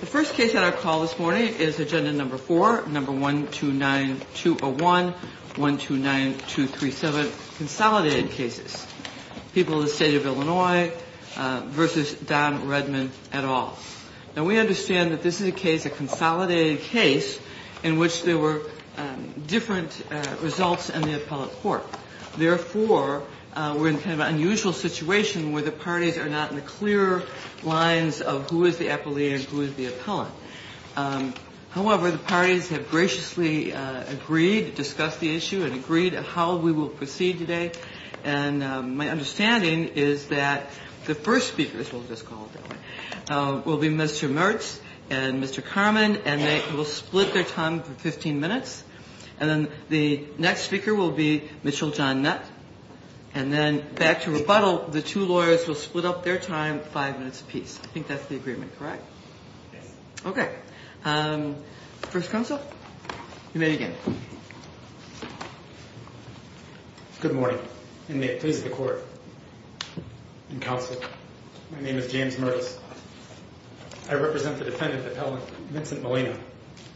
The first case on our call this morning is Agenda No. 4, No. 129201, 129237, Consolidated Cases, People of the State of Illinois v. Don Redmond et al. Now, we understand that this is a case, a consolidated case, in which there were different results in the appellate court. Therefore, we're in kind of an unusual situation where the parties are not in the clear lines of who is the appellate and who is the appellant. However, the parties have graciously agreed to discuss the issue and agreed how we will proceed today. And my understanding is that the first speakers, we'll just call them, will be Mr. Mertz and Mr. Carman, and they will split their time for 15 minutes. And then the next speaker will be Mitchell John Nutt. And then back to rebuttal, the two lawyers will split up their time five minutes apiece. I think that's the agreement, correct? Yes. Okay. First counsel, you may begin. Good morning, and may it please the court and counsel, my name is James Mertz. I represent the defendant appellant, Vincent Molina.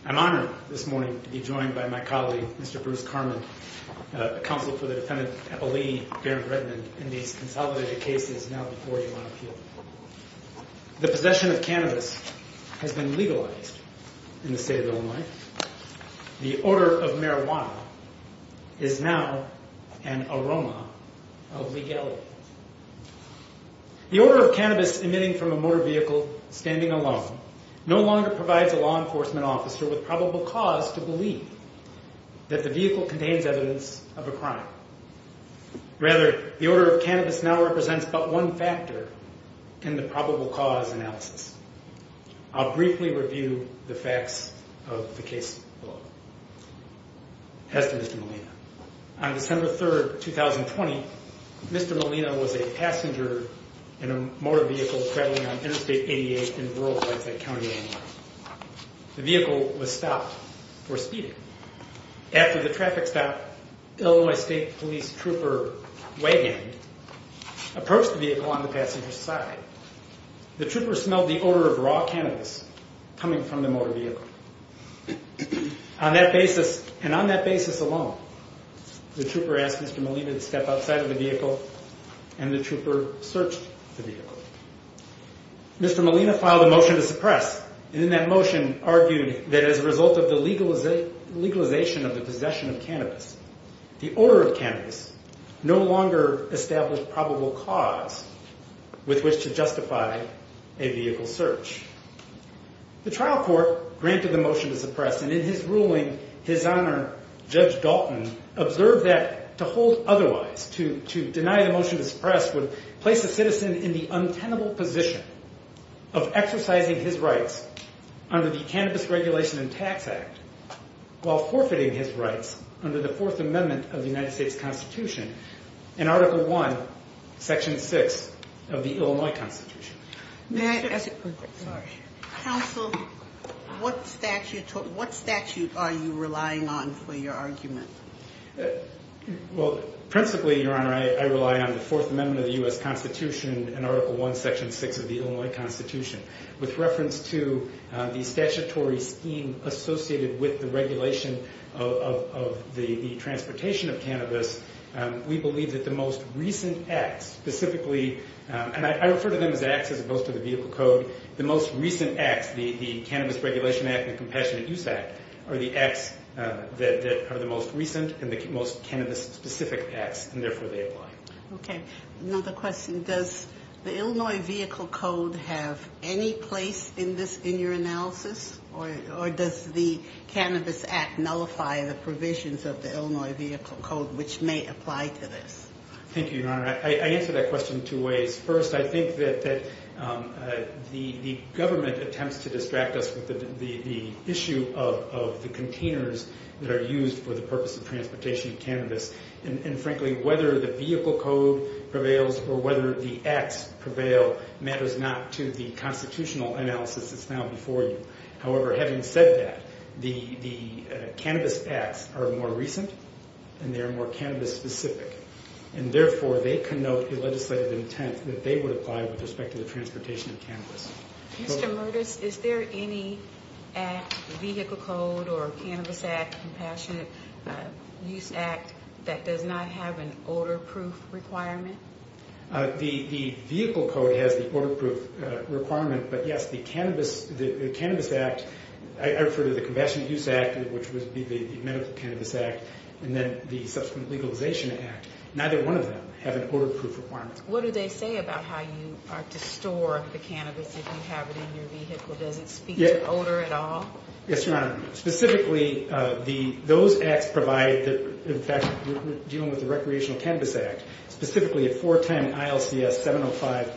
I'm honored this morning to be joined by my colleague, Mr. Bruce Carman, counsel for the defendant appellee, Barrett Redmond, in these consolidated cases now before you on appeal. The possession of cannabis has been legalized in the state of Illinois. The odor of marijuana is now an aroma of legality. The odor of cannabis emitting from a motor vehicle standing alone no longer provides a law enforcement officer with probable cause to believe that the vehicle contains evidence of a crime. Rather, the odor of cannabis now represents but one factor in the probable cause analysis. I'll briefly review the facts of the case below. As to Mr. Molina, on December 3rd, 2020, Mr. Molina was a passenger in a motor vehicle traveling on Interstate 88 in rural Lafayette County, Illinois. The vehicle was stopped for speeding. After the traffic stopped, Illinois State Police Trooper Wegand approached the vehicle on the passenger's side. The trooper smelled the odor of raw cannabis coming from the motor vehicle. And on that basis alone, the trooper asked Mr. Molina to step outside of the vehicle, and the trooper searched the vehicle. Mr. Molina filed a motion to suppress, and in that motion argued that as a result of the legalization of the possession of cannabis, the odor of cannabis no longer established probable cause with which to justify a vehicle search. The trial court granted the motion to suppress, and in his ruling, his honor, Judge Dalton, observed that to hold otherwise, to deny the motion to suppress, would place a citizen in the untenable position of exercising his rights under the Cannabis Regulation and Tax Act while forfeiting his rights under the Fourth Amendment of the United States Constitution in Article I, Section 6 of the Illinois Constitution. Counsel, what statute are you relying on for your argument? Well, principally, your honor, I rely on the Fourth Amendment of the U.S. Constitution in Article I, Section 6 of the Illinois Constitution. With reference to the statutory scheme associated with the regulation of the transportation of cannabis, we believe that the most recent acts, specifically, and I refer to them as acts as opposed to the vehicle code, the most recent acts, the Cannabis Regulation Act and Compassionate Use Act, are the acts that are the most recent and the most cannabis-specific acts, and therefore they apply. Okay. Another question. Does the Illinois Vehicle Code have any place in your analysis, or does the Cannabis Act nullify the provisions of the Illinois Vehicle Code, which may apply to this? Thank you, your honor. I answer that question two ways. First, I think that the government attempts to distract us with the issue of the containers that are used for the purpose of transportation of cannabis, and frankly, whether the vehicle code prevails or whether the acts prevail matters not to the constitutional analysis that's now before you. However, having said that, the cannabis acts are more recent and they are more cannabis-specific, and therefore they connote the legislative intent that they would apply with respect to the transportation of cannabis. Mr. Murtis, is there any act, vehicle code or Cannabis Act, Compassionate Use Act, that does not have an odor-proof requirement? The vehicle code has the odor-proof requirement, but yes, the Cannabis Act, I refer to the Compassionate Use Act, which would be the Medical Cannabis Act, and then the subsequent Legalization Act, neither one of them have an odor-proof requirement. What do they say about how you are to store the cannabis if you have it in your vehicle? Does it speak to odor at all? Yes, your honor. Specifically, those acts provide, in fact, we're dealing with the Recreational Cannabis Act, specifically a four-time ILCS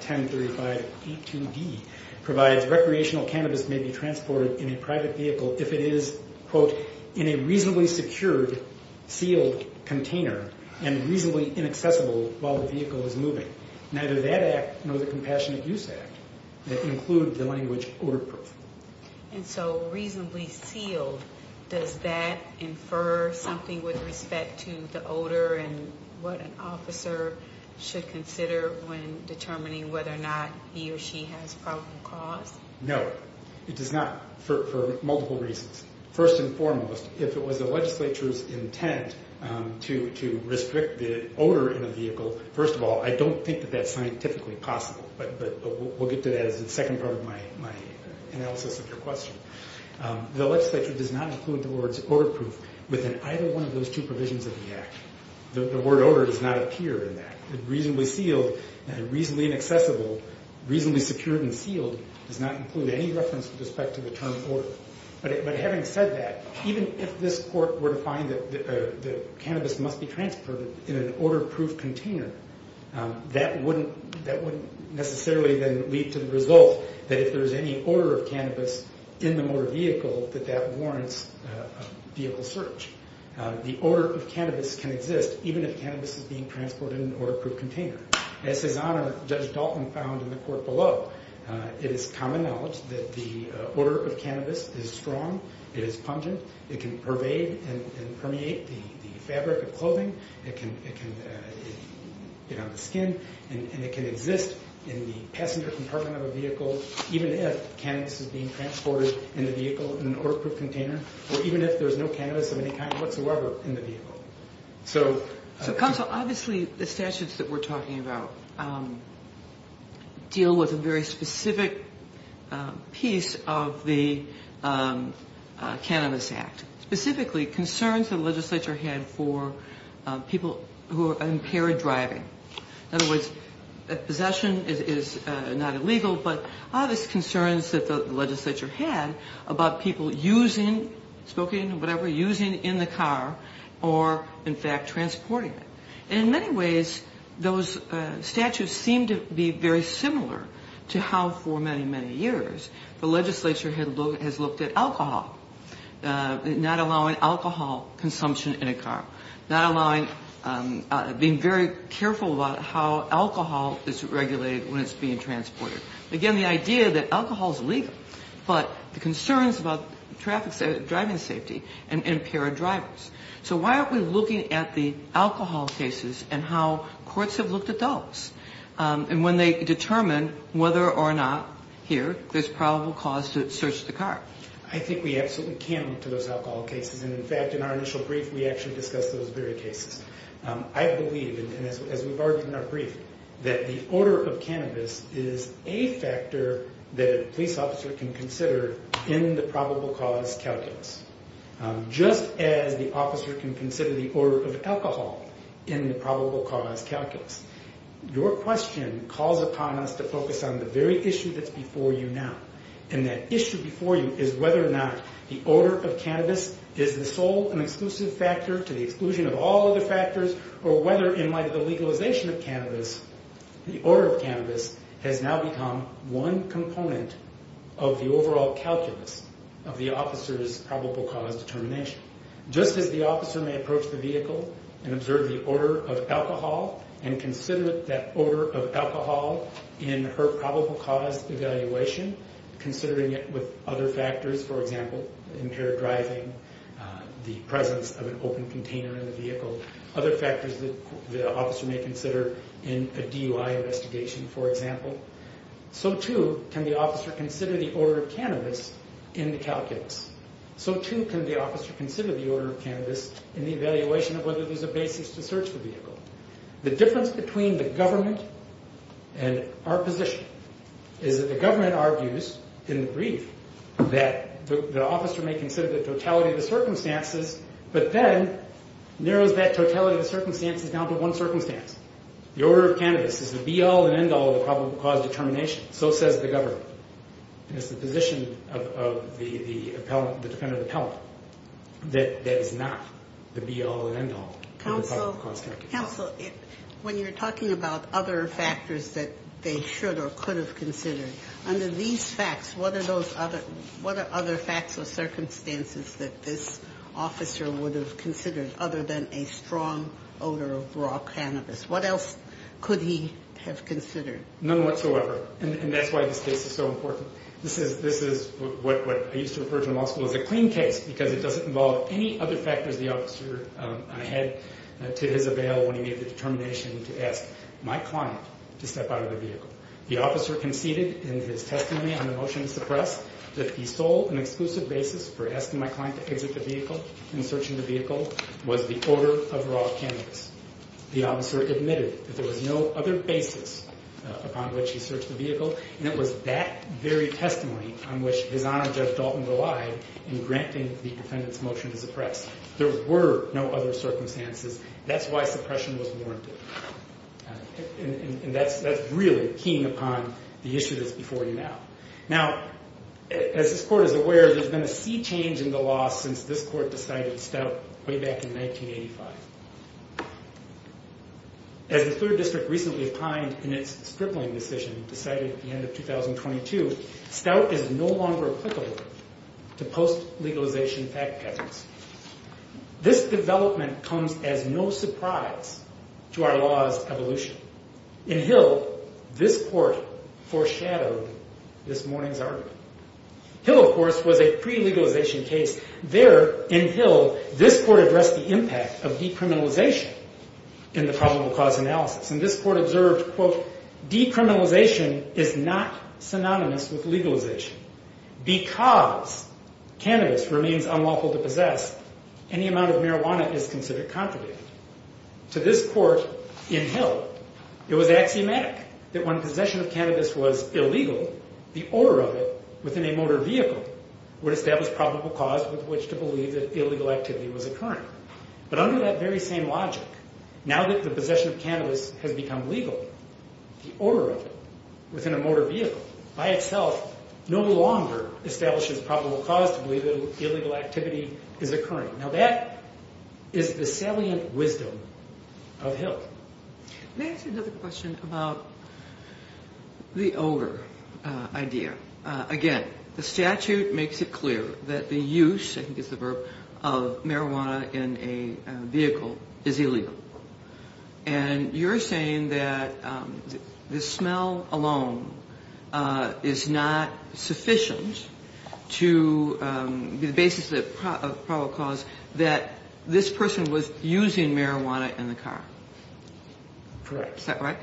705-1035-82D provides recreational cannabis may be transported in a private vehicle if it is, quote, in a reasonably secured, sealed container and reasonably inaccessible while the vehicle is moving. Neither that act nor the Compassionate Use Act include the language odor-proof. And so reasonably sealed, does that infer something with respect to the odor and what an officer should consider when determining whether or not he or she has a probable cause? No, it does not, for multiple reasons. First and foremost, if it was the legislature's intent to restrict the odor in a vehicle, first of all, I don't think that that's scientifically possible, but we'll get to that as the second part of my analysis of your question. The legislature does not include the words odor-proof within either one of those two provisions of the act. The word odor does not appear in that. Reasonably sealed, reasonably inaccessible, reasonably secured and sealed does not include any reference with respect to the term odor. But having said that, even if this court were to find that cannabis must be transported in an odor-proof container, that wouldn't necessarily then lead to the result that if there's any odor of cannabis in the motor vehicle that that warrants vehicle search. The odor of cannabis can exist even if cannabis is being transported in an odor-proof container. As His Honor, Judge Dalton, found in the court below, it is common knowledge that the odor of cannabis is strong, it is pungent, it can pervade and permeate the fabric of clothing, it can get on the skin, and it can exist in the passenger compartment of a vehicle even if cannabis is being transported in the vehicle in an odor-proof container or even if there's no cannabis of any kind whatsoever in the vehicle. So counsel, obviously the statutes that we're talking about deal with a very specific piece of the Cannabis Act, specifically concerns the legislature had for people who are impaired driving. In other words, possession is not illegal, but all these concerns that the legislature had about people using, smoking or whatever, using in the car or in fact transporting it. In many ways, those statutes seem to be very similar to how for many, many years the legislature has looked at alcohol, not allowing alcohol consumption in a car. Not allowing, being very careful about how alcohol is regulated when it's being transported. Again, the idea that alcohol is legal, but the concerns about traffic safety, driving safety and impaired drivers. So why aren't we looking at the alcohol cases and how courts have looked at those? And when they determine whether or not, here, there's probable cause to search the car. I think we absolutely can look to those alcohol cases. And in fact, in our initial brief, we actually discussed those very cases. I believe, and as we've argued in our brief, that the order of cannabis is a factor that a police officer can consider in the probable cause calculus. Just as the officer can consider the order of alcohol in the probable cause calculus. Your question calls upon us to focus on the very issue that's before you now. And that issue before you is whether or not the order of cannabis is the sole and exclusive factor to the exclusion of all other factors. Or whether in light of the legalization of cannabis, the order of cannabis has now become one component of the overall calculus of the officer's probable cause determination. Just as the officer may approach the vehicle and observe the order of alcohol and consider that order of alcohol in her probable cause evaluation, considering it with other factors, for example, impaired driving, the presence of an open container in the vehicle, other factors that the officer may consider in a DUI investigation, for example, so too can the officer consider the order of cannabis in the calculus. So too can the officer consider the order of cannabis in the evaluation of whether there's a basis to search the vehicle. The difference between the government and our position is that the government argues in the brief that the officer may consider the totality of the circumstances, but then narrows that totality of the circumstances down to one circumstance. The order of cannabis is the be-all and end-all of the probable cause determination. So says the government. It's the position of the defendant appellant that is not the be-all and end-all of the probable cause determination. Counsel, when you're talking about other factors that they should or could have considered, under these facts, what are other facts or circumstances that this officer would have considered other than a strong odor of raw cannabis? What else could he have considered? None whatsoever, and that's why this case is so important. This is what I used to refer to in law school as a clean case because it doesn't involve any other factors the officer had to his avail when he made the determination to ask my client to step out of the vehicle. The officer conceded in his testimony on the motion to suppress that the sole and exclusive basis for asking my client to exit the vehicle and searching the vehicle was the odor of raw cannabis. The officer admitted that there was no other basis upon which he searched the vehicle, and it was that very testimony on which his Honor Judge Dalton relied in granting the defendant's motion to suppress. There were no other circumstances. That's why suppression was warranted, and that's really keying upon the issue that's before you now. Now, as this Court is aware, there's been a sea change in the law since this Court decided Stout way back in 1985. As the Third District recently opined in its stripling decision decided at the end of 2022, Stout is no longer applicable to post-legalization fact patterns. This development comes as no surprise to our law's evolution. In Hill, this Court foreshadowed this morning's argument. Hill, of course, was a pre-legalization case. There, in Hill, this Court addressed the impact of decriminalization in the probable cause analysis, and this Court observed, quote, This is not synonymous with legalization. Because cannabis remains unlawful to possess, any amount of marijuana is considered contraband. To this Court in Hill, it was axiomatic that when possession of cannabis was illegal, the order of it within a motor vehicle would establish probable cause with which to believe that illegal activity was occurring. But under that very same logic, now that the possession of cannabis has become legal, the order of it within a motor vehicle by itself no longer establishes probable cause to believe that illegal activity is occurring. Now, that is the salient wisdom of Hill. May I ask you another question about the odor idea? Again, the statute makes it clear that the use, I think is the verb, of marijuana in a vehicle is illegal. And you're saying that the smell alone is not sufficient to be the basis of probable cause, that this person was using marijuana in the car. Correct. Is that right?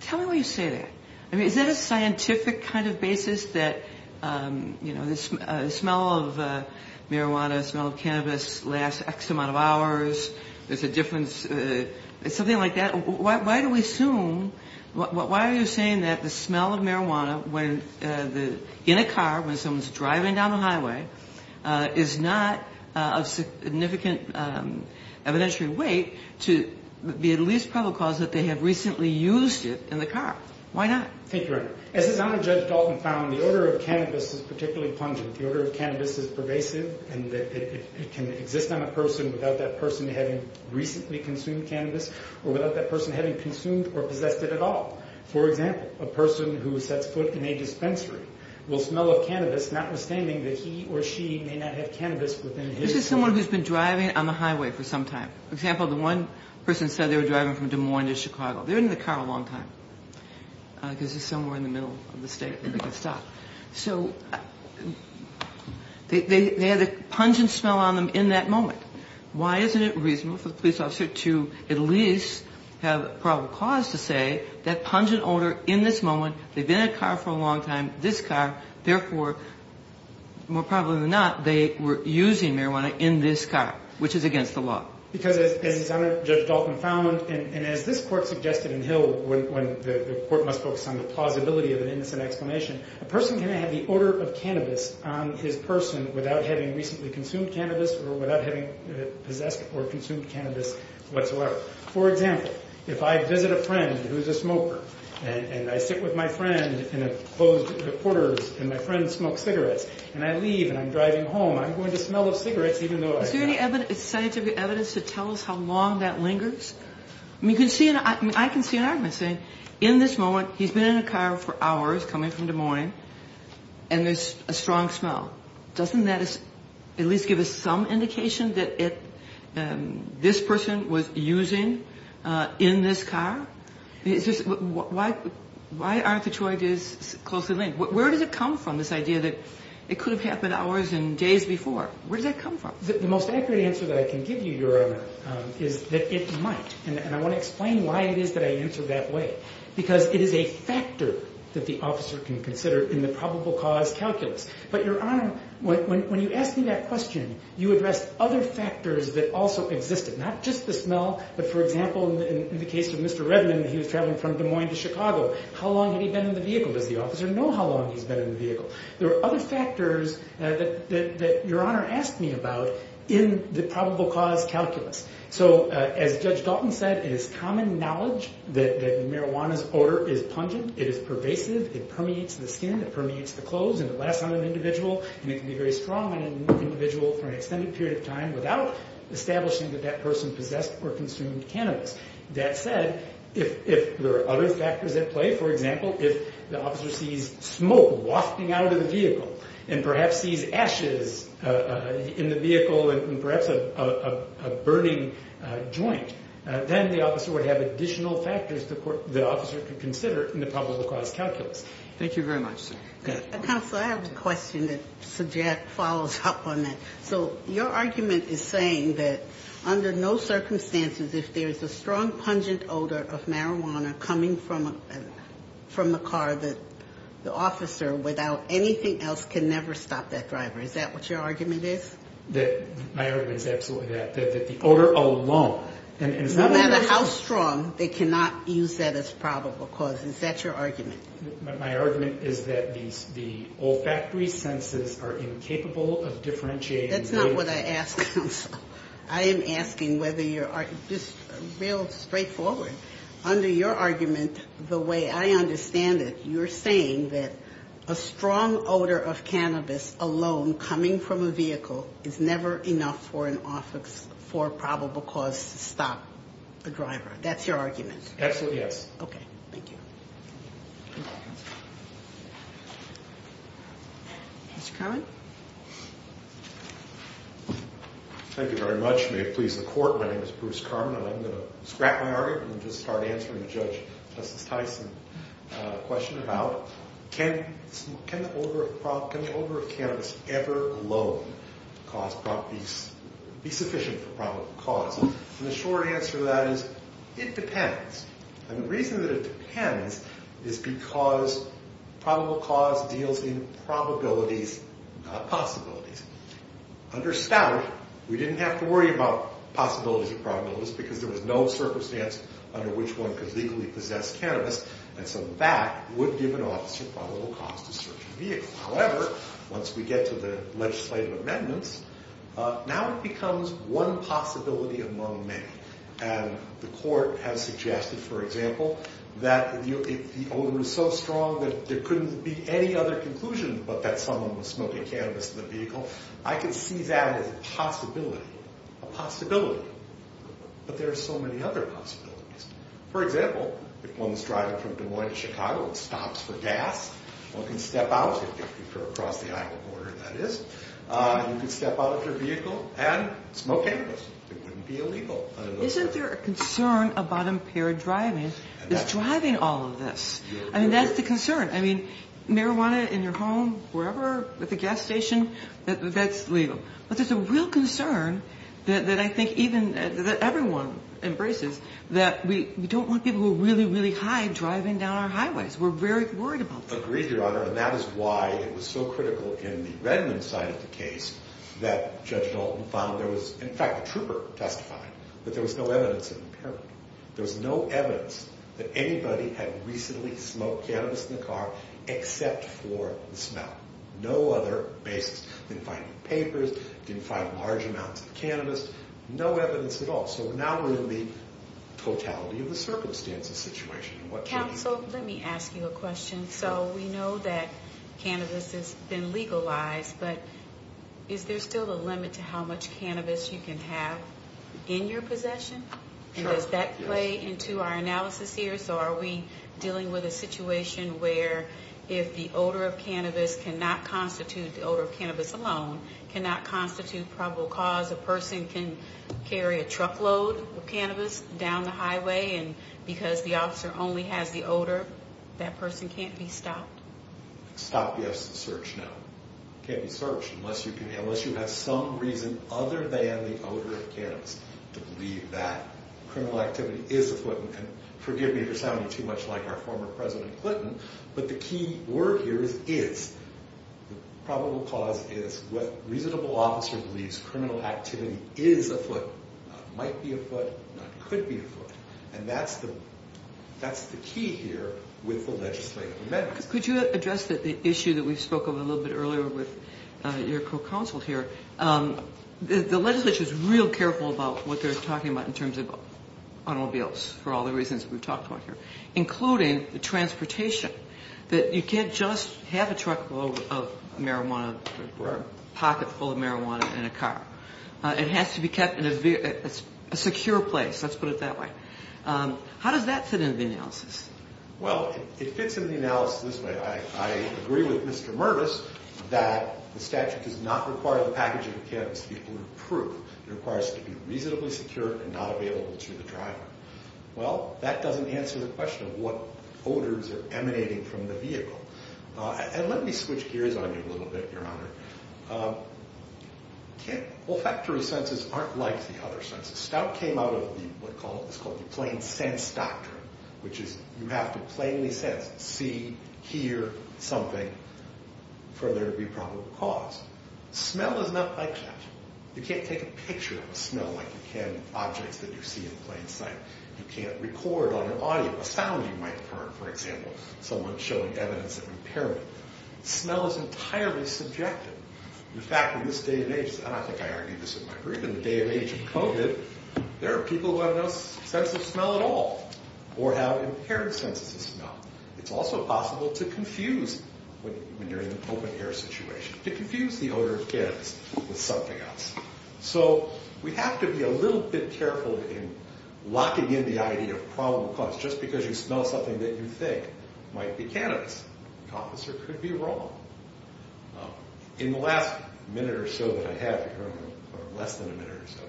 Tell me why you say that. I mean, is that a scientific kind of basis that, you know, the smell of marijuana, the smell of cannabis lasts X amount of hours, there's a difference, something like that? Why do we assume, why are you saying that the smell of marijuana in a car when someone's driving down the highway is not of significant evidentiary weight to be at least probable cause that they have recently used it in the car? Why not? Thank you, Your Honor. As His Honor Judge Dalton found, the odor of cannabis is particularly pungent. The odor of cannabis is pervasive and it can exist on a person without that person having recently consumed cannabis or without that person having consumed or possessed it at all. For example, a person who sets foot in a dispensary will smell of cannabis notwithstanding that he or she may not have cannabis within his car. This is someone who's been driving on the highway for some time. For example, the one person said they were driving from Des Moines to Chicago. They were in the car a long time because it's somewhere in the middle of the state where they can stop. So they had a pungent smell on them in that moment. Why isn't it reasonable for the police officer to at least have probable cause to say that pungent odor in this moment, they've been in a car for a long time, this car, therefore, more probably than not, they were using marijuana in this car, which is against the law. Because, as Judge Dalton found, and as this court suggested in Hill when the court must focus on the plausibility of an innocent explanation, a person can have the odor of cannabis on his person without having recently consumed cannabis or without having possessed or consumed cannabis whatsoever. For example, if I visit a friend who's a smoker and I sit with my friend in a closed quarters and my friend smokes cigarettes and I leave and I'm driving home, I'm going to smell of cigarettes even though I've not. Is there any scientific evidence to tell us how long that lingers? I can see an argument saying in this moment he's been in a car for hours coming from Des Moines and there's a strong smell. Doesn't that at least give us some indication that this person was using in this car? Why aren't the two ideas closely linked? Where does it come from, this idea that it could have happened hours and days before? Where does that come from? The most accurate answer that I can give you, Your Honor, is that it might. And I want to explain why it is that I answer that way. Because it is a factor that the officer can consider in the probable cause calculus. But, Your Honor, when you asked me that question, you addressed other factors that also existed. Not just the smell, but, for example, in the case of Mr. Revenant, he was traveling from Des Moines to Chicago. How long had he been in the vehicle? Does the officer know how long he's been in the vehicle? There are other factors that Your Honor asked me about in the probable cause calculus. So, as Judge Dalton said, it is common knowledge that marijuana's odor is pungent. It is pervasive. It permeates the skin. It permeates the clothes. And it lasts on an individual. And it can be very strong on an individual for an extended period of time without establishing that that person possessed or consumed cannabis. That said, if there are other factors at play, for example, if the officer sees smoke wafting out of the vehicle, and perhaps sees ashes in the vehicle, and perhaps a burning joint, then the officer would have additional factors the officer could consider in the probable cause calculus. Thank you very much, sir. Counsel, I have a question that follows up on that. So, your argument is saying that under no circumstances, if there's a strong, pungent odor of marijuana coming from the car, that the officer, without anything else, can never stop that driver. Is that what your argument is? My argument is absolutely that. That the odor alone. No matter how strong, they cannot use that as probable cause. Is that your argument? My argument is that the olfactory senses are incapable of differentiating. That's not what I asked, Counsel. I am asking whether your argument is real straightforward. Under your argument, the way I understand it, you're saying that a strong odor of cannabis alone coming from a vehicle is never enough for a probable cause to stop the driver. Absolutely, yes. Okay, thank you. Okay. Mr. Carman? Thank you very much. May it please the Court, my name is Bruce Carman, and I'm going to scrap my argument and just start answering the Judge Justice Tyson question about can the odor of cannabis ever alone be sufficient for probable cause? And the short answer to that is, it depends. And the reason that it depends is because probable cause deals in probabilities, not possibilities. Under Stout, we didn't have to worry about possibilities and probabilities because there was no circumstance under which one could legally possess cannabis, and so that would give an officer probable cause to search a vehicle. However, once we get to the legislative amendments, now it becomes one possibility among many. And the Court has suggested, for example, that if the odor is so strong that there couldn't be any other conclusion but that someone was smoking cannabis in the vehicle, I can see that as a possibility, a possibility. But there are so many other possibilities. For example, if one's driving from Des Moines to Chicago and stops for gas, one can step out, if you're across the Iowa border, that is, you can step out of your vehicle and smoke cannabis. It wouldn't be illegal. Isn't there a concern about impaired driving? Is driving all of this? I mean, that's the concern. I mean, marijuana in your home, wherever, at the gas station, that's legal. But there's a real concern that I think even, that everyone embraces, that we don't want people who are really, really high driving down our highways. We're very worried about that. Agreed, Your Honor, and that is why it was so critical in the Redmond side of the case that Judge Dalton found there was, in fact, a trooper testified that there was no evidence of impairment. There was no evidence that anybody had recently smoked cannabis in the car except for the smell. No other basis. They didn't find any papers. They didn't find large amounts of cannabis. No evidence at all. So now we're in the totality of the circumstances situation. Counsel, let me ask you a question. So we know that cannabis has been legalized, but is there still a limit to how much cannabis you can have in your possession? And does that play into our analysis here? So are we dealing with a situation where if the odor of cannabis cannot constitute, the odor of cannabis alone, cannot constitute probable cause, a person can carry a truckload of cannabis down the highway, and because the officer only has the odor, that person can't be stopped? Stopped, yes. Searched, no. Can't be searched unless you have some reason other than the odor of cannabis to believe that criminal activity is afoot. And forgive me for sounding too much like our former President Clinton, but the key word here is is. The probable cause is what reasonable officer believes criminal activity is afoot, might be afoot, could be afoot. And that's the key here with the legislative amendments. Could you address the issue that we spoke of a little bit earlier with your co-counsel here? The legislature is real careful about what they're talking about in terms of automobiles for all the reasons we've talked about here, including the transportation, that you can't just have a truckload of marijuana or a pocketful of marijuana in a car. It has to be kept in a secure place. Let's put it that way. How does that fit into the analysis? Well, it fits into the analysis this way. I agree with Mr. Mervis that the statute does not require the packaging of cannabis to be approved. It requires it to be reasonably secure and not available to the driver. Well, that doesn't answer the question of what odors are emanating from the vehicle. And let me switch gears on you a little bit, Your Honor. Olfactory senses aren't like the other senses. Stout came out of what is called the plain sense doctrine, which is you have to plainly sense, see, hear something for there to be probable cause. Smell is not like that. You can't take a picture of a smell like you can objects that you see in plain sight. You can't record on your audio a sound you might have heard, for example, someone showing evidence of impairment. Smell is entirely subjective. In fact, in this day and age, and I think I argued this in my brief, in the day and age of COVID, there are people who have no sense of smell at all or have impaired senses of smell. It's also possible to confuse, when you're in an open-air situation, to confuse the odor of cannabis with something else. So we have to be a little bit careful in locking in the idea of probable cause. Just because you smell something that you think might be cannabis, the officer could be wrong. In the last minute or so that I have, or less than a minute or so,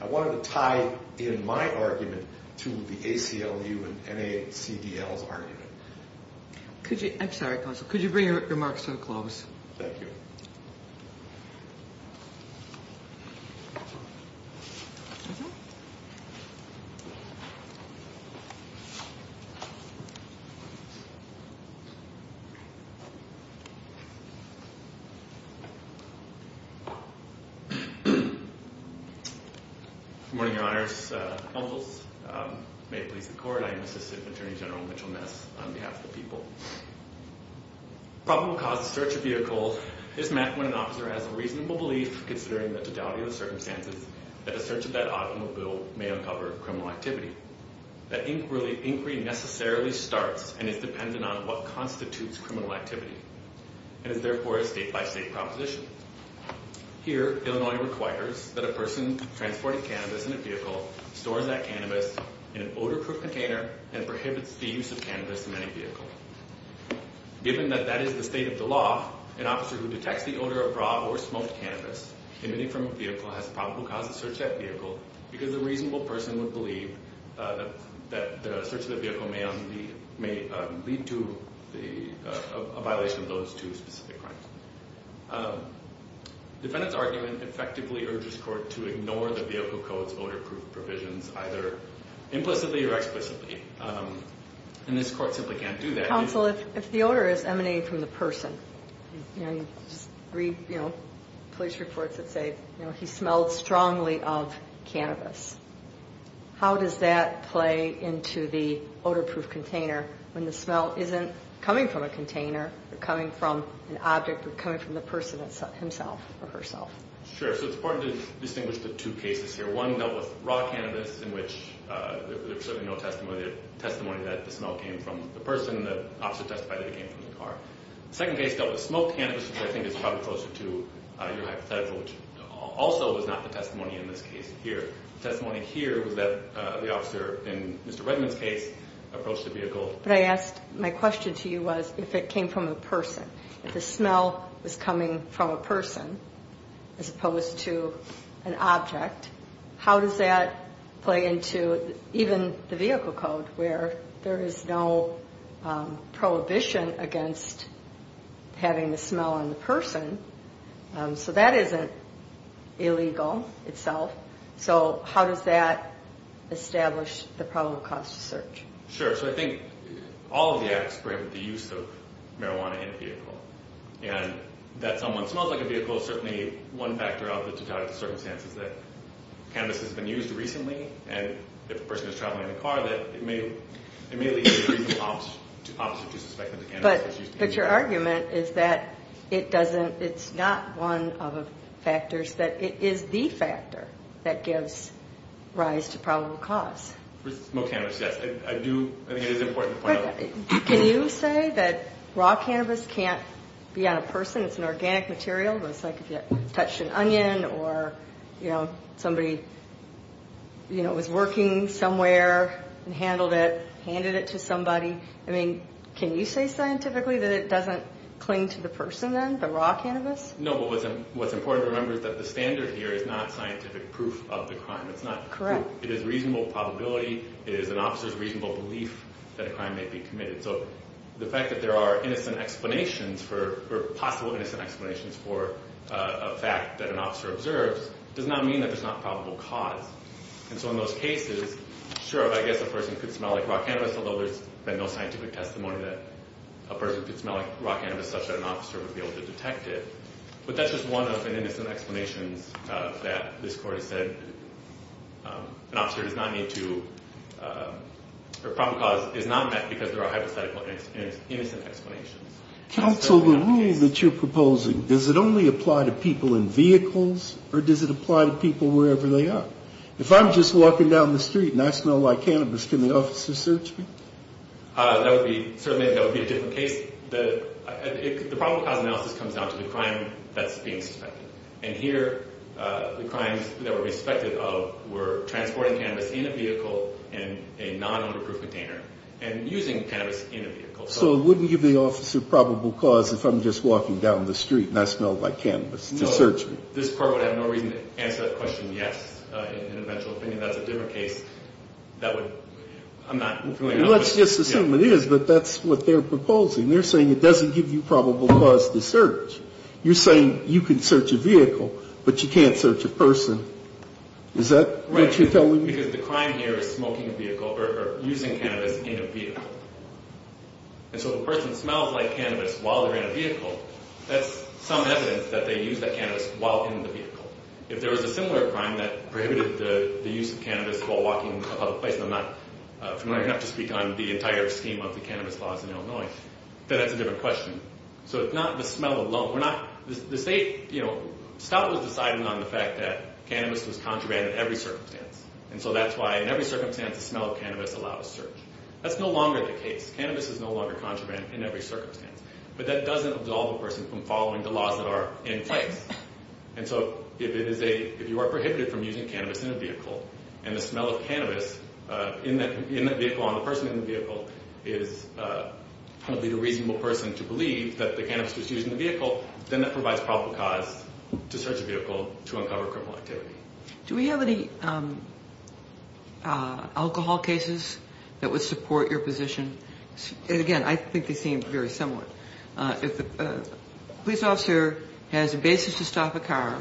I wanted to tie in my argument to the ACLU and NACDL's argument. I'm sorry, counsel. Could you bring your remarks to a close? Thank you. Good morning, Your Honors. May it please the Court, I am Assistant Attorney General Mitchell Ness on behalf of the people. Probable cause of search of vehicle is met when an officer has a reasonable belief, considering the totality of the circumstances, that a search of that automobile may uncover criminal activity. That inquiry necessarily starts and is dependent on what constitutes criminal activity and is therefore a state-by-state proposition. Here, Illinois requires that a person transporting cannabis in a vehicle stores that cannabis in an odor-proof container and prohibits the use of cannabis in any vehicle. Given that that is the state of the law, an officer who detects the odor of raw or smoked cannabis emitting from a vehicle has probable cause to search that vehicle because the reasonable person would believe that the search of the vehicle may lead to a violation of those two specific crimes. Defendant's argument effectively urges the Court to ignore the vehicle code's odor-proof provisions, either implicitly or explicitly, and this Court simply can't do that. Counsel, if the odor is emanating from the person, you know, police reports that say, you know, he smelled strongly of cannabis, how does that play into the odor-proof container when the smell isn't coming from a container or coming from an object but coming from the person himself or herself? Sure, so it's important to distinguish the two cases here. One dealt with raw cannabis in which there was certainly no testimony that the smell came from the person. The officer testified that it came from the car. The second case dealt with smoked cannabis, which I think is probably closer to your hypothetical, which also was not the testimony in this case here. The testimony here was that the officer, in Mr. Redman's case, approached the vehicle. But I asked, my question to you was if it came from a person, if the smell was coming from a person as opposed to an object, how does that play into even the vehicle code, where there is no prohibition against having the smell on the person? So that isn't illegal itself. So how does that establish the probable cause to search? Sure, so I think all of the acts bring the use of marijuana in a vehicle. And that someone smells like a vehicle is certainly one factor out of the totality of circumstances that cannabis has been used recently. And if a person is traveling in a car, it may lead to the opposite, to suspect that the cannabis has been used. But your argument is that it doesn't, it's not one of the factors, that it is the factor that gives rise to probable cause. For smoked cannabis, yes, I do, I think it is important to point out. Can you say that raw cannabis can't be on a person, it's an organic material, it's like if you touched an onion or somebody was working somewhere and handled it, handed it to somebody. Can you say scientifically that it doesn't cling to the person then, the raw cannabis? No, but what's important to remember is that the standard here is not scientific proof of the crime. It is reasonable probability, it is an officer's reasonable belief that a crime may be committed. So the fact that there are innocent explanations for, or possible innocent explanations for a fact that an officer observes, does not mean that there's not probable cause. And so in those cases, sure, I guess a person could smell like raw cannabis, although there's been no scientific testimony that a person could smell like raw cannabis, such that an officer would be able to detect it. But that's just one of an innocent explanations that this court has said an officer does not need to, or probable cause is not met because there are hypothetical innocent explanations. Counsel, the rule that you're proposing, does it only apply to people in vehicles, or does it apply to people wherever they are? If I'm just walking down the street and I smell like cannabis, can the officer search me? That would be, certainly that would be a different case. The probable cause analysis comes down to the crime that's being suspected. And here, the crimes that were suspected of were transporting cannabis in a vehicle in a non-underproof container, and using cannabis in a vehicle. So it wouldn't give the officer probable cause if I'm just walking down the street and I smell like cannabis to search me? No, this court would have no reason to answer that question yes, in an eventual opinion. That's a different case. That would, I'm not going to. Let's just assume it is, but that's what they're proposing. They're saying it doesn't give you probable cause to search. You're saying you can search a vehicle, but you can't search a person. Is that what you're telling me? Right, because the crime here is smoking a vehicle, or using cannabis in a vehicle. And so if a person smells like cannabis while they're in a vehicle, that's some evidence that they used that cannabis while in the vehicle. If there was a similar crime that prohibited the use of cannabis while walking in a public place, and I'm not familiar enough to speak on the entire scheme of the cannabis laws in Illinois, then that's a different question. So it's not the smell alone. We're not, the state, you know, Scott was deciding on the fact that cannabis was contraband in every circumstance. And so that's why in every circumstance the smell of cannabis allowed a search. That's no longer the case. Cannabis is no longer contraband in every circumstance. But that doesn't absolve a person from following the laws that are in place. And so if you are prohibited from using cannabis in a vehicle, and the smell of cannabis in that vehicle on the person in the vehicle is probably the reasonable person to believe that the cannabis was used in the vehicle, then that provides probable cause to search the vehicle to uncover criminal activity. Do we have any alcohol cases that would support your position? Again, I think they seem very similar. If a police officer has a basis to stop a car,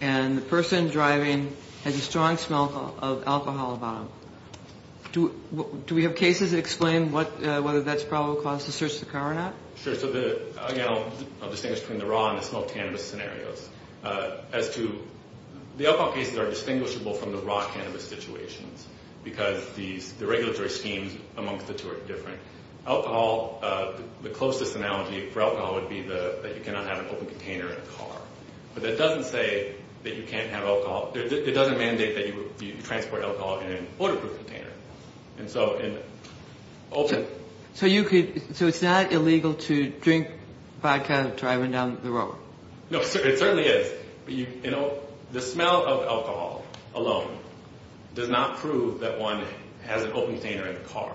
and the person driving has a strong smell of alcohol about them, do we have cases that explain whether that's probable cause to search the car or not? Sure. So, again, I'll distinguish between the raw and the smoked cannabis scenarios. As to the alcohol cases are distinguishable from the raw cannabis situations because the regulatory schemes amongst the two are different. Alcohol, the closest analogy for alcohol would be that you cannot have an open container in a car. But that doesn't say that you can't have alcohol. It doesn't mandate that you transport alcohol in an odor-proof container. So it's not illegal to drink vodka driving down the road? No, it certainly is. The smell of alcohol alone does not prove that one has an open container in the car.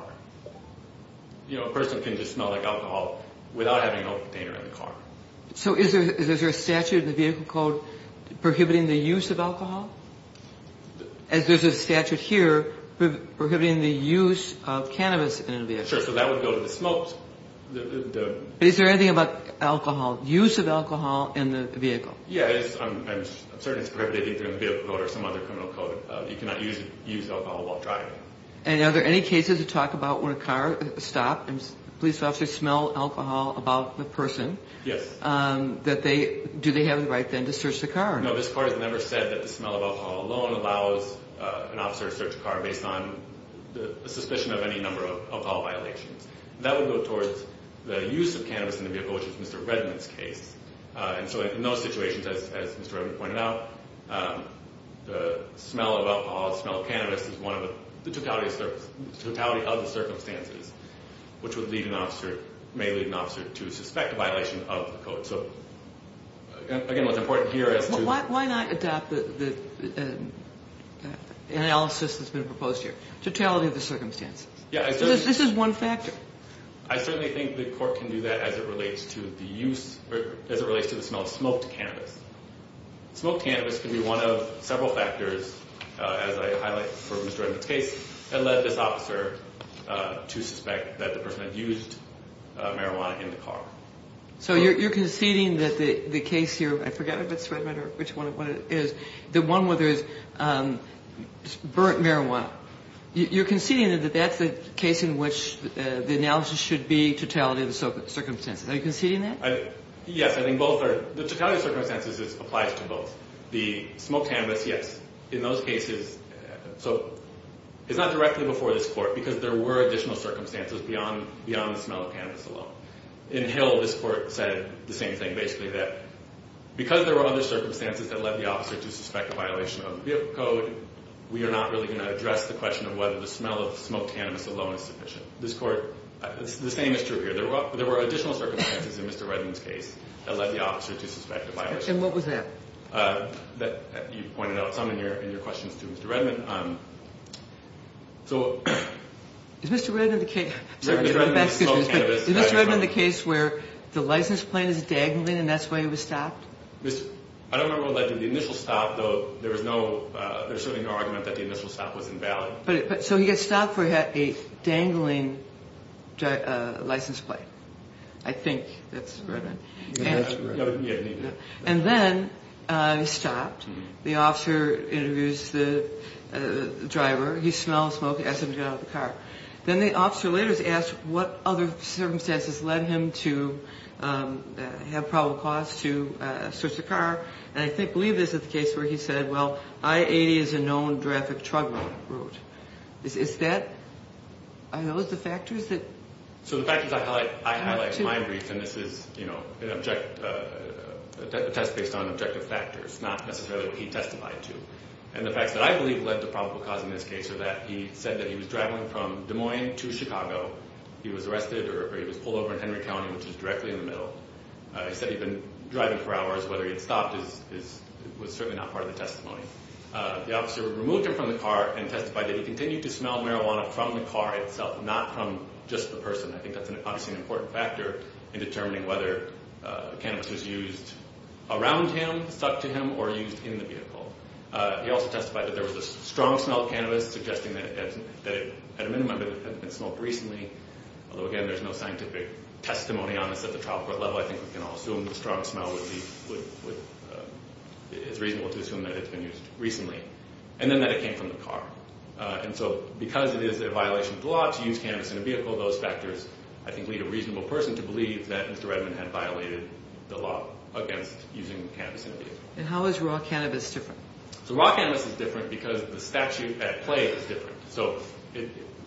A person can just smell like alcohol without having an open container in the car. So is there a statute in the vehicle code prohibiting the use of alcohol? As there's a statute here prohibiting the use of cannabis in a vehicle. Sure, so that would go to the smoked. Is there anything about alcohol, use of alcohol in the vehicle? Yes, I'm certain it's prohibited either in the vehicle code or some other criminal code. You cannot use alcohol while driving. And are there any cases to talk about when a car stops and police officers smell alcohol about the person? Yes. Do they have the right then to search the car? No, this court has never said that the smell of alcohol alone allows an officer to search a car based on the suspicion of any number of alcohol violations. That would go towards the use of cannabis in the vehicle, which is Mr. Redman's case. And so in those situations, as Mr. Redman pointed out, the smell of alcohol, the smell of cannabis is one of the totality of the circumstances which may lead an officer to suspect a violation of the code. So, again, what's important here is to... Why not adopt the analysis that's been proposed here, totality of the circumstances? This is one factor. I certainly think the court can do that as it relates to the smell of smoked cannabis. Smoked cannabis can be one of several factors, as I highlight for Mr. Redman's case, that led this officer to suspect that the person had used marijuana in the car. So you're conceding that the case here, I forget if it's Redman or which one it is, the one where there is burnt marijuana, you're conceding that that's the case in which the analysis should be totality of the circumstances. Are you conceding that? Yes, I think both are. The totality of the circumstances applies to both. The smoked cannabis, yes. In those cases, so it's not directly before this court because there were additional circumstances beyond the smell of cannabis alone. In Hill, this court said the same thing, basically that because there were other circumstances that led the officer to suspect a violation of the code, we are not really going to address the question of whether the smell of smoked cannabis alone is sufficient. This court, the same is true here. There were additional circumstances in Mr. Redman's case that led the officer to suspect a violation. And what was that? You pointed out some in your questions to Mr. Redman. Is Mr. Redman the case where the license plate is dangling and that's why he was stopped? I don't remember what led to the initial stop. There was certainly no argument that the initial stop was invalid. So he got stopped for a dangling license plate. I think that's Redman. Yes, it is Redman. And then he stopped. The officer interviews the driver. He smelled the smoke and asked him to get out of the car. Then the officer later is asked what other circumstances led him to have probable cause to switch the car. And I believe this is the case where he said, well, I-80 is a known traffic truck route. Is that? Are those the factors that? So the factors I highlight in my brief, and this is a test based on objective factors, not necessarily what he testified to. And the facts that I believe led to probable cause in this case are that he said that he was driving from Des Moines to Chicago. He was arrested or he was pulled over in Henry County, which is directly in the middle. He said he'd been driving for hours. Whether he had stopped was certainly not part of the testimony. The officer removed him from the car and testified that he continued to smell marijuana from the car itself, not from just the person. I think that's obviously an important factor in determining whether cannabis was used around him, stuck to him, or used in the vehicle. He also testified that there was a strong smell of cannabis, suggesting that at a minimum it had been smelled recently. Although, again, there's no scientific testimony on this at the trial court level. I think we can all assume the strong smell is reasonable to assume that it's been used recently. And then that it came from the car. And so because it is a violation of the law to use cannabis in a vehicle, those factors I think lead a reasonable person to believe that Mr. Redman had violated the law against using cannabis in a vehicle. And how is raw cannabis different? So raw cannabis is different because the statute at play is different. So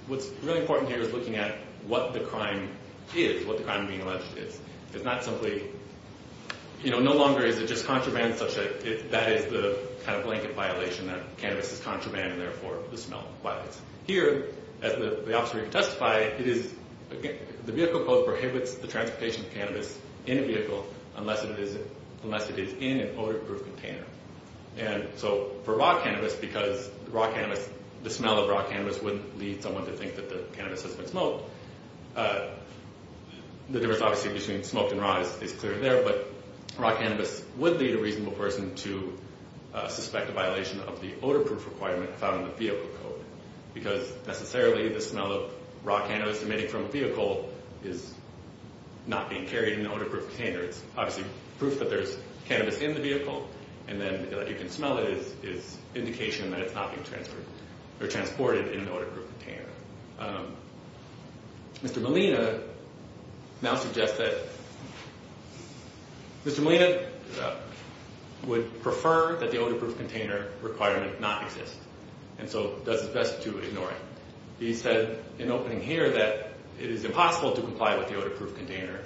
what's really important here is looking at what the crime is, what the crime of being alleged is. It's not simply, you know, no longer is it just contraband such that that is the kind of blanket violation that cannabis is contraband and therefore the smell violates. Here, as the officer testified, the vehicle code prohibits the transportation of cannabis in a vehicle unless it is in an odor-proof container. And so for raw cannabis, because the smell of raw cannabis wouldn't lead someone to think that the cannabis has been smoked, the difference obviously between smoked and raw is clear there, but raw cannabis would lead a reasonable person to suspect a violation of the odor-proof requirement found in the vehicle code. Because necessarily the smell of raw cannabis emitted from a vehicle is not being carried in an odor-proof container. It's obviously proof that there's cannabis in the vehicle, and then that you can smell it is indication that it's not being transported in an odor-proof container. Mr. Molina now suggests that Mr. Molina would prefer that the odor-proof container requirement not exist, and so does his best to ignore it. He said in opening here that it is impossible to comply with the odor-proof container.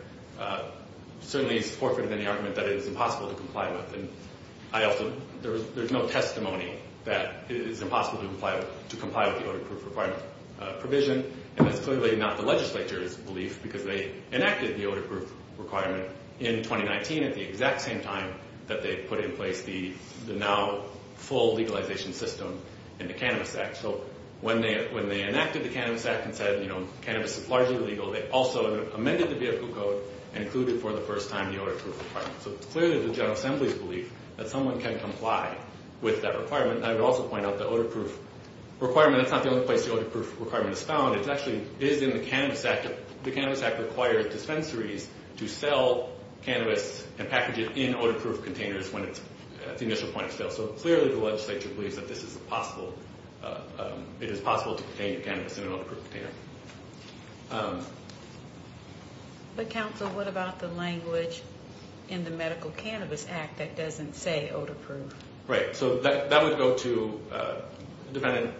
Certainly he's forfeited any argument that it is impossible to comply with, and there's no testimony that it is impossible to comply with the odor-proof requirement. And that's clearly not the legislature's belief, because they enacted the odor-proof requirement in 2019 at the exact same time that they put in place the now full legalization system in the Cannabis Act. So when they enacted the Cannabis Act and said, you know, cannabis is largely legal, they also amended the vehicle code and included for the first time the odor-proof requirement. So clearly the General Assembly's belief that someone can comply with that requirement. I would also point out the odor-proof requirement, it's not the only place the odor-proof requirement is found. It actually is in the Cannabis Act. The Cannabis Act requires dispensaries to sell cannabis and package it in odor-proof containers when it's at the initial point of sale. So clearly the legislature believes that this is possible. It is possible to contain your cannabis in an odor-proof container. But, counsel, what about the language in the Medical Cannabis Act that doesn't say odor-proof? Right, so that would go to a defendant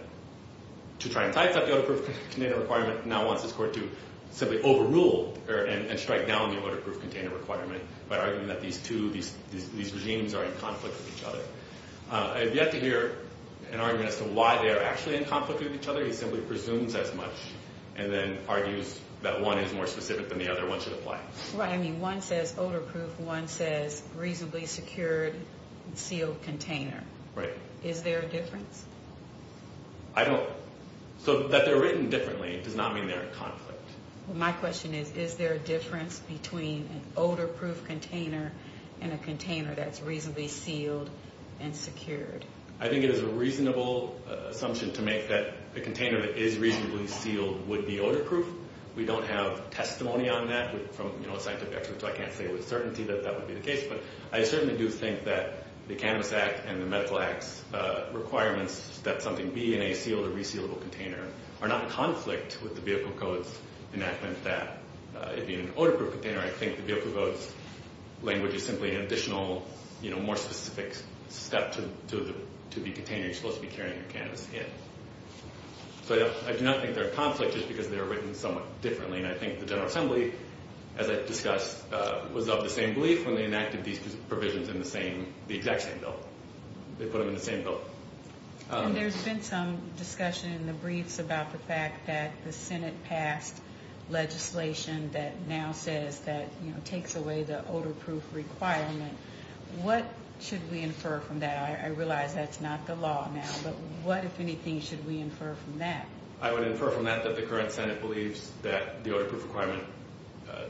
to try and tie itself to the odor-proof container requirement. Now wants his court to simply overrule and strike down the odor-proof container requirement by arguing that these two, these regimes are in conflict with each other. I have yet to hear an argument as to why they are actually in conflict with each other. He simply presumes as much and then argues that one is more specific than the other. One should apply. Right, I mean one says odor-proof, one says reasonably secured, sealed container. Right. Is there a difference? I don't, so that they're written differently does not mean they're in conflict. My question is, is there a difference between an odor-proof container and a container that's reasonably sealed and secured? I think it is a reasonable assumption to make that the container that is reasonably sealed would be odor-proof. We don't have testimony on that from, you know, scientific experts, so I can't say with certainty that that would be the case. But I certainly do think that the Cannabis Act and the Medical Act's requirements that something be in a sealed or resealable container are not in conflict with the Vehicle Codes enactment. That it being an odor-proof container, I think the Vehicle Codes language is simply an additional, you know, more specific step to the container you're supposed to be carrying your cannabis in. So I do not think they're in conflict just because they're written somewhat differently. And I think the General Assembly, as I've discussed, was of the same belief when they enacted these provisions in the same, the exact same bill. They put them in the same bill. And there's been some discussion in the briefs about the fact that the Senate passed legislation that now says that, you know, takes away the odor-proof requirement. What should we infer from that? I realize that's not the law now, but what, if anything, should we infer from that? I would infer from that that the current Senate believes that the odor-proof requirement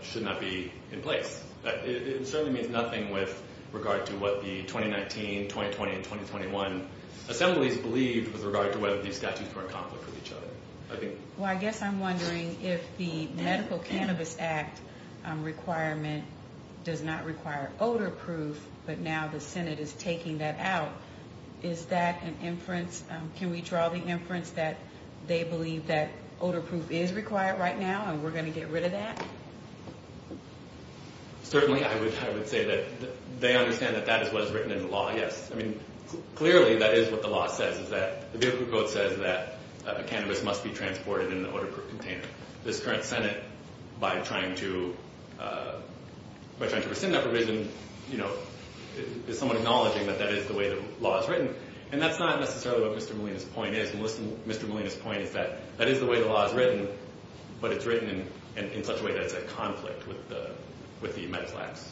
should not be in place. It certainly means nothing with regard to what the 2019, 2020, and 2021 assemblies believed with regard to whether these statutes were in conflict with each other. Well, I guess I'm wondering if the Medical Cannabis Act requirement does not require odor-proof, but now the Senate is taking that out. Is that an inference? Can we draw the inference that they believe that odor-proof is required right now and we're going to get rid of that? Certainly, I would say that they understand that that is what is written in the law, yes. I mean, clearly, that is what the law says, is that the vehicle code says that cannabis must be transported in an odor-proof container. This current Senate, by trying to rescind that provision, you know, is somewhat acknowledging that that is the way the law is written. And that's not necessarily what Mr. Molina's point is. And Mr. Molina's point is that that is the way the law is written, but it's written in such a way that it's a conflict with the med flags,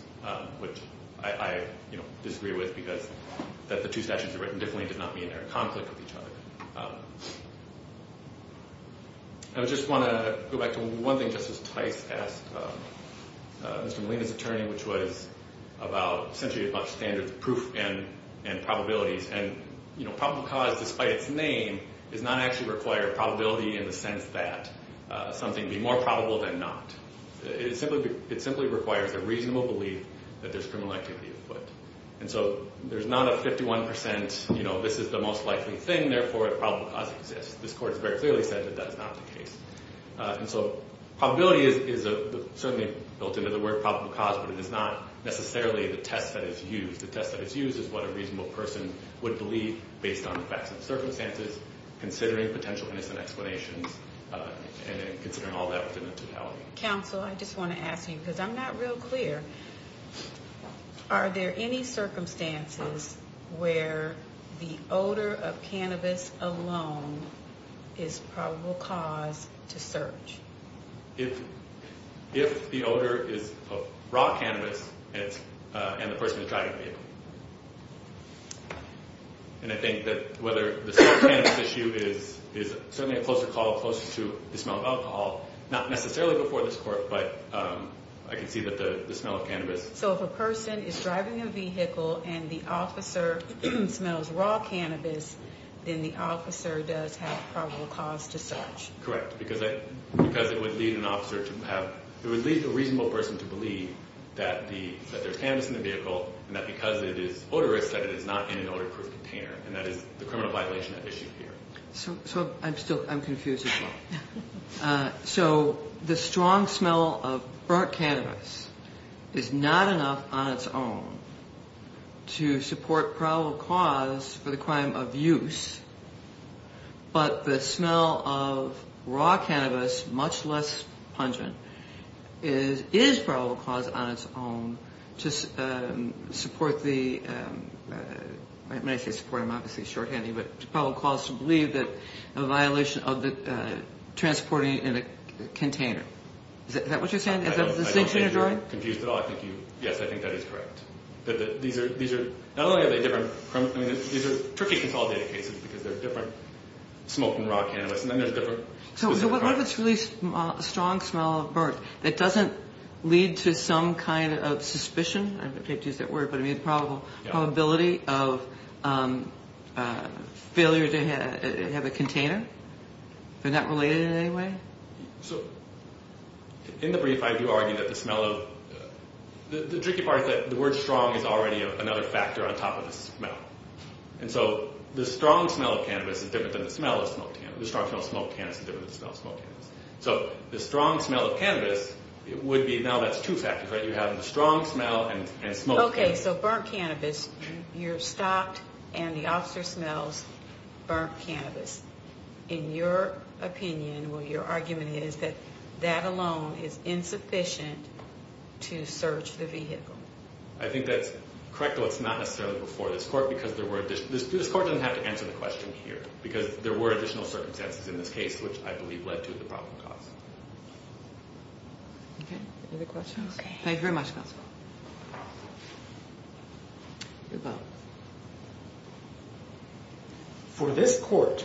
which I disagree with, because that the two statutes are written differently and does not mean they're in conflict with each other. I just want to go back to one thing Justice Tice asked Mr. Molina's attorney, which was about, essentially, about standards of proof and probabilities. And, you know, probable cause, despite its name, does not actually require probability in the sense that something be more probable than not. It simply requires a reasonable belief that there's criminal activity at foot. And so there's not a 51%, you know, this is the most likely thing, therefore, a probable cause exists. This court has very clearly said that that is not the case. And so probability is certainly built into the word probable cause, but it is not necessarily the test that is used. The test that is used is what a reasonable person would believe based on facts and circumstances, considering potential innocent explanations, and considering all that within the totality. Counsel, I just want to ask you, because I'm not real clear, are there any circumstances where the odor of cannabis alone is probable cause to search? If the odor is of raw cannabis, and the person is driving the vehicle. And I think that whether the smell of cannabis issue is certainly a closer call, closer to the smell of alcohol, not necessarily before this court, but I can see that the smell of cannabis. So if a person is driving a vehicle and the officer smells raw cannabis, then the officer does have probable cause to search. Correct, because it would lead an officer to have, it would lead a reasonable person to believe that there's cannabis in the vehicle, and that because it is odorous that it is not in an odor-proof container, and that is the criminal violation at issue here. So I'm still, I'm confused as well. So the strong smell of burnt cannabis is not enough on its own to support probable cause for the crime of use, but the smell of raw cannabis, much less pungent, is probable cause on its own to support the, when I say support, I'm obviously shorthanding, but probable cause to believe that a violation of transporting in a container. Is that what you're saying? Is that the distinction you're drawing? I don't think you're confused at all. I think you, yes, I think that is correct. These are, not only are they different, I mean, these are tricky control data cases because they're different, smoking raw cannabis, and then there's different specific causes. So what if it's really a strong smell of burnt that doesn't lead to some kind of suspicion, I don't know if you have to use that word, but I mean the probability of failure to have a container? They're not related in any way? So in the brief, I do argue that the smell of, the tricky part is that the word strong is already another factor on top of the smell. And so the strong smell of cannabis is different than the smell of smoked cannabis. The strong smell of smoked cannabis is different than the smell of smoked cannabis. So the strong smell of cannabis would be, now that's two factors, right? You have the strong smell and smoked cannabis. Okay, so burnt cannabis, you're stopped and the officer smells burnt cannabis. In your opinion, or your argument is that that alone is insufficient to search the vehicle. I think that's correct, though it's not necessarily before this court because there were, this court doesn't have to answer the question here because there were additional circumstances in this case, which I believe led to the problem caused. Okay, any other questions? Okay. Thank you very much, counsel. You're welcome. For this court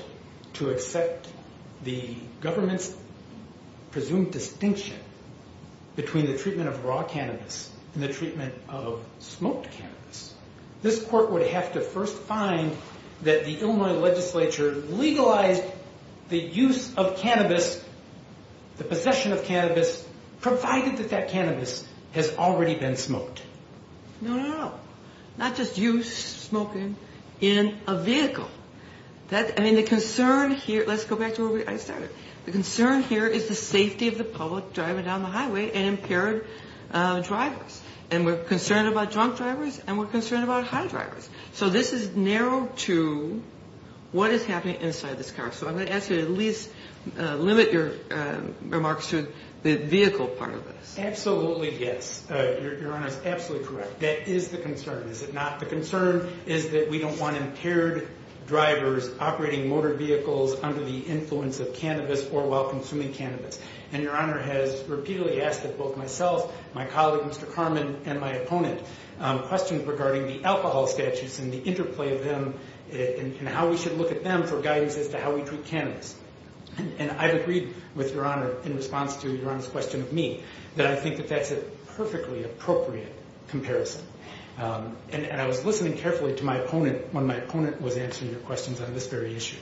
to accept the government's presumed distinction between the treatment of raw cannabis and the treatment of smoked cannabis, this court would have to first find that the Illinois legislature legalized the use of cannabis, the possession of cannabis, provided that that cannabis has already been smoked. No, no, no. Not just use, smoking in a vehicle. I mean the concern here, let's go back to where I started. The concern here is the safety of the public driving down the highway and impaired drivers. And we're concerned about drunk drivers and we're concerned about high drivers. So this is narrowed to what is happening inside this car. So I'm going to ask you to at least limit your remarks to the vehicle part of this. Absolutely, yes. Your Honor is absolutely correct. That is the concern, is it not? The concern is that we don't want impaired drivers operating motor vehicles under the influence of cannabis or while consuming cannabis. And Your Honor has repeatedly asked that both myself, my colleague Mr. Carman, and my opponent question regarding the alcohol statutes and the interplay of them and how we should look at them for guidance as to how we treat cannabis. And I've agreed with Your Honor in response to Your Honor's question of me that I think that that's a perfectly appropriate comparison. And I was listening carefully to my opponent when my opponent was answering your questions on this very issue.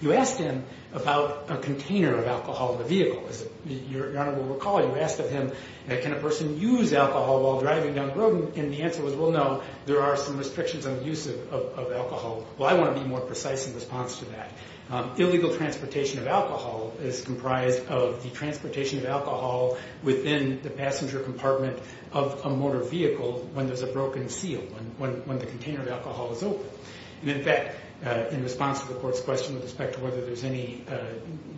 You asked him about a container of alcohol in the vehicle. Your Honor will recall you asked him can a person use alcohol while driving down the road and the answer was well no, there are some restrictions on the use of alcohol. Well I want to be more precise in response to that. Illegal transportation of alcohol is comprised of the transportation of alcohol within the passenger compartment of a motor vehicle when there's a broken seal, when the container of alcohol is open. And in fact, in response to the court's question with respect to whether there's any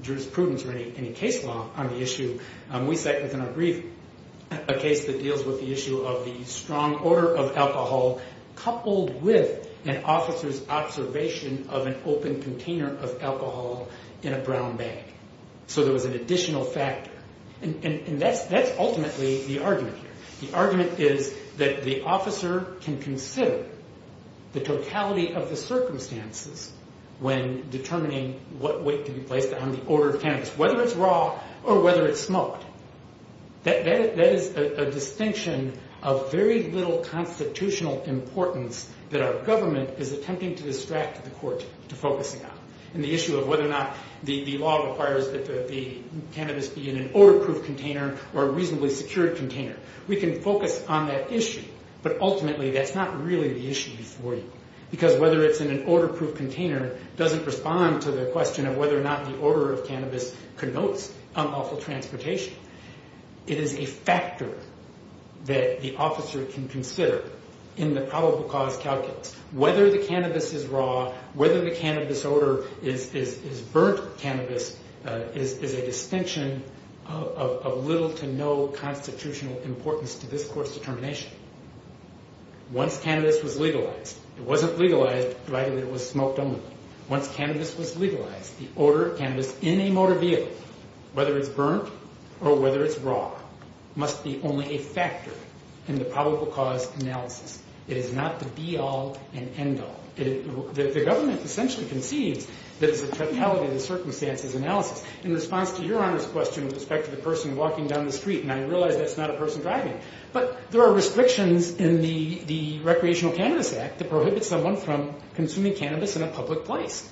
jurisprudence or any case law on the issue, we cite within our brief a case that deals with the issue of the strong order of alcohol coupled with an officer's observation of an open container of alcohol in a brown bag. So there was an additional factor. And that's ultimately the argument here. The argument is that the officer can consider the totality of the circumstances when determining what weight to be placed on the order of cannabis, whether it's raw or whether it's smoked. That is a distinction of very little constitutional importance that our government is attempting to distract the court to focus on. And the issue of whether or not the law requires that the cannabis be in an order-proof container or a reasonably secured container. We can focus on that issue, but ultimately that's not really the issue before you. Because whether it's in an order-proof container doesn't respond to the question of whether or not the order of cannabis connotes unlawful transportation. It is a factor that the officer can consider in the probable cause calculus. Whether the cannabis is raw, whether the cannabis order is burnt cannabis, is a distinction of little to no constitutional importance to this court's determination. Once cannabis was legalized, it wasn't legalized provided it was smoked only. Once cannabis was legalized, the order of cannabis in a motor vehicle, whether it's burnt or whether it's raw, must be only a factor in the probable cause analysis. It is not the be-all and end-all. The government essentially concedes that it's a totality of the circumstances analysis. In response to your Honor's question with respect to the person walking down the street, and I realize that's not a person driving, but there are restrictions in the Recreational Cannabis Act that prohibit someone from consuming cannabis in a public place.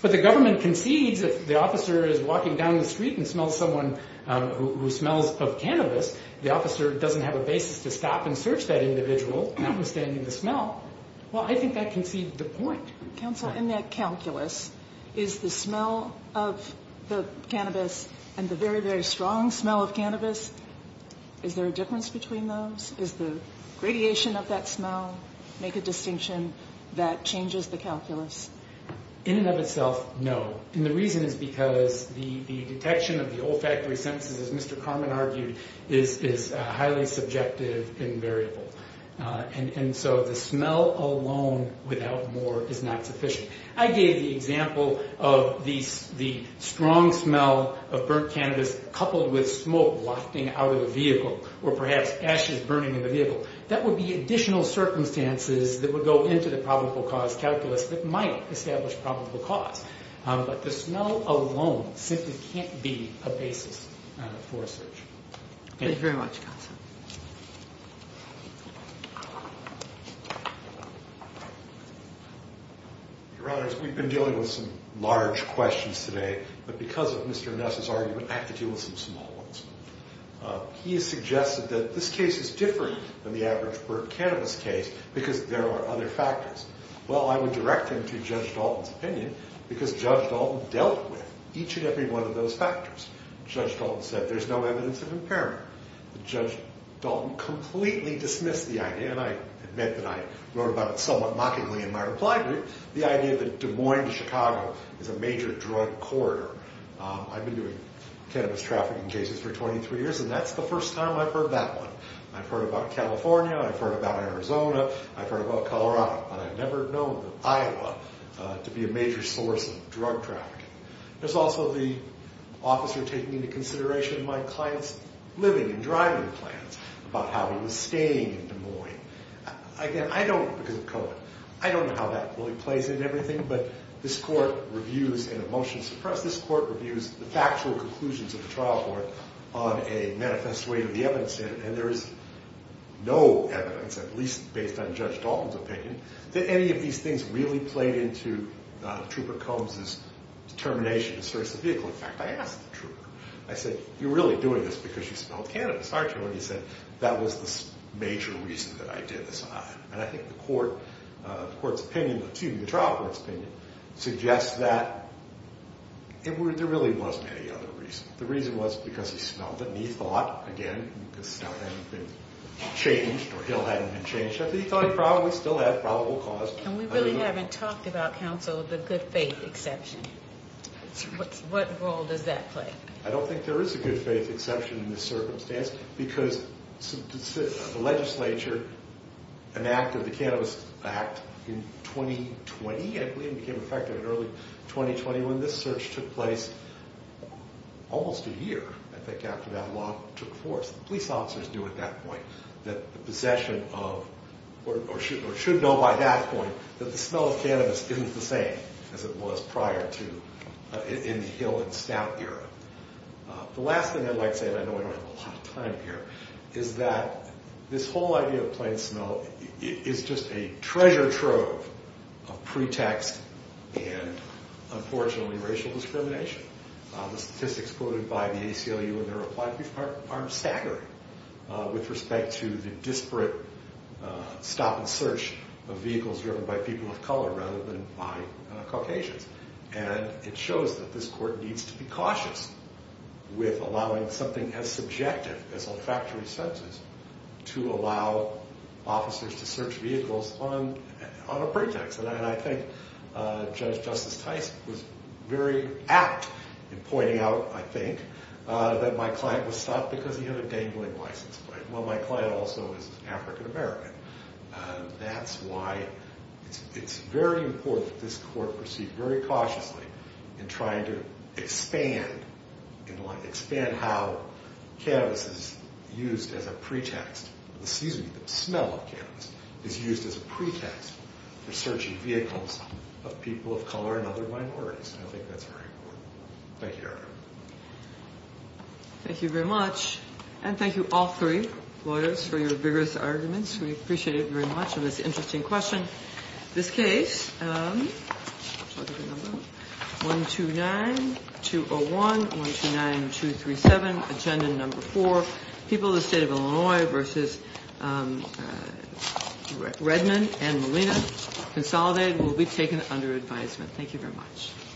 But the government concedes if the officer is walking down the street and smells someone who smells of cannabis, the officer doesn't have a basis to stop and search that individual, notwithstanding the smell. Well, I think that concedes the point. Counsel, in that calculus, is the smell of the cannabis and the very, very strong smell of cannabis, is there a difference between those? Does the radiation of that smell make a distinction that changes the calculus? In and of itself, no. And the reason is because the detection of the olfactory senses, as Mr. Carman argued, is highly subjective and variable. And so the smell alone without more is not sufficient. I gave the example of the strong smell of burnt cannabis coupled with smoke wafting out of the vehicle, or perhaps ashes burning in the vehicle. That would be additional circumstances that would go into the probable cause calculus that might establish probable cause. But the smell alone simply can't be a basis for a search. Thank you very much, Counsel. Your Honors, we've been dealing with some large questions today, but because of Mr. Ness's argument, I have to deal with some small ones. He has suggested that this case is different than the average burnt cannabis case because there are other factors. Well, I would direct him to Judge Dalton's opinion because Judge Dalton dealt with each and every one of those factors. Judge Dalton said there's no evidence of impairment. Judge Dalton completely dismissed the idea, and I admit that I wrote about it somewhat mockingly in my reply to it, the idea that Des Moines to Chicago is a major drug corridor. I've been doing cannabis trafficking cases for 23 years, and that's the first time I've heard that one. I've heard about California, I've heard about Arizona, I've heard about Colorado, but I've never known Iowa to be a major source of drug trafficking. There's also the officer taking into consideration my client's living and driving plans about how he was staying in Des Moines. Again, I don't, because of COVID, I don't know how that really plays into everything, but this Court reviews in a motion suppressed, this Court reviews the factual conclusions of the trial court on a manifest way of the evidence, and there is no evidence, at least based on Judge Dalton's opinion, that any of these things really played into Trooper Combs' determination to search the vehicle. In fact, I asked the Trooper, I said, you're really doing this because you smelled cannabis, aren't you? And he said, that was the major reason that I did this on him. And I think the Court's opinion, excuse me, the trial court's opinion, suggests that there really wasn't any other reason. The reason was because he smelled it, and he thought, again, because the smell hadn't been changed, or he thought it probably still had probable cause. And we really haven't talked about, counsel, the good faith exception. What role does that play? I don't think there is a good faith exception in this circumstance, because the legislature enacted the Cannabis Act in 2020, I believe, and became effective in early 2020, when this search took place almost a year, I think, after that law took force. Police officers knew at that point that the possession of, or should know by that point, that the smell of cannabis isn't the same as it was prior to, in the Hill and Stout era. The last thing I'd like to say, and I know we don't have a lot of time here, is that this whole idea of plain smell is just a treasure trove of pretext and, unfortunately, racial discrimination. The statistics quoted by the ACLU in their reply are staggering with respect to the disparate stop and search of vehicles driven by people of color rather than by Caucasians. And it shows that this court needs to be cautious with allowing something as subjective as olfactory senses to allow officers to search vehicles on a pretext. And I think Judge Justice Tyson was very apt in pointing out, I think, that my client was stopped because he had a dangling license plate. Well, my client also is African American. That's why it's very important that this court proceed very cautiously in trying to expand how cannabis is used as a pretext. The seasoning, the smell of cannabis is used as a pretext for searching vehicles of people of color and other minorities. And I think that's very important. Thank you, Your Honor. Thank you very much. And thank you, all three lawyers, for your vigorous arguments. We appreciate it very much. And it's an interesting question. This case, 129-201, 129-237, Agenda Number 4, People of the State of Illinois v. Redmond and Molina, Consolidated, will be taken under advisement. Thank you very much.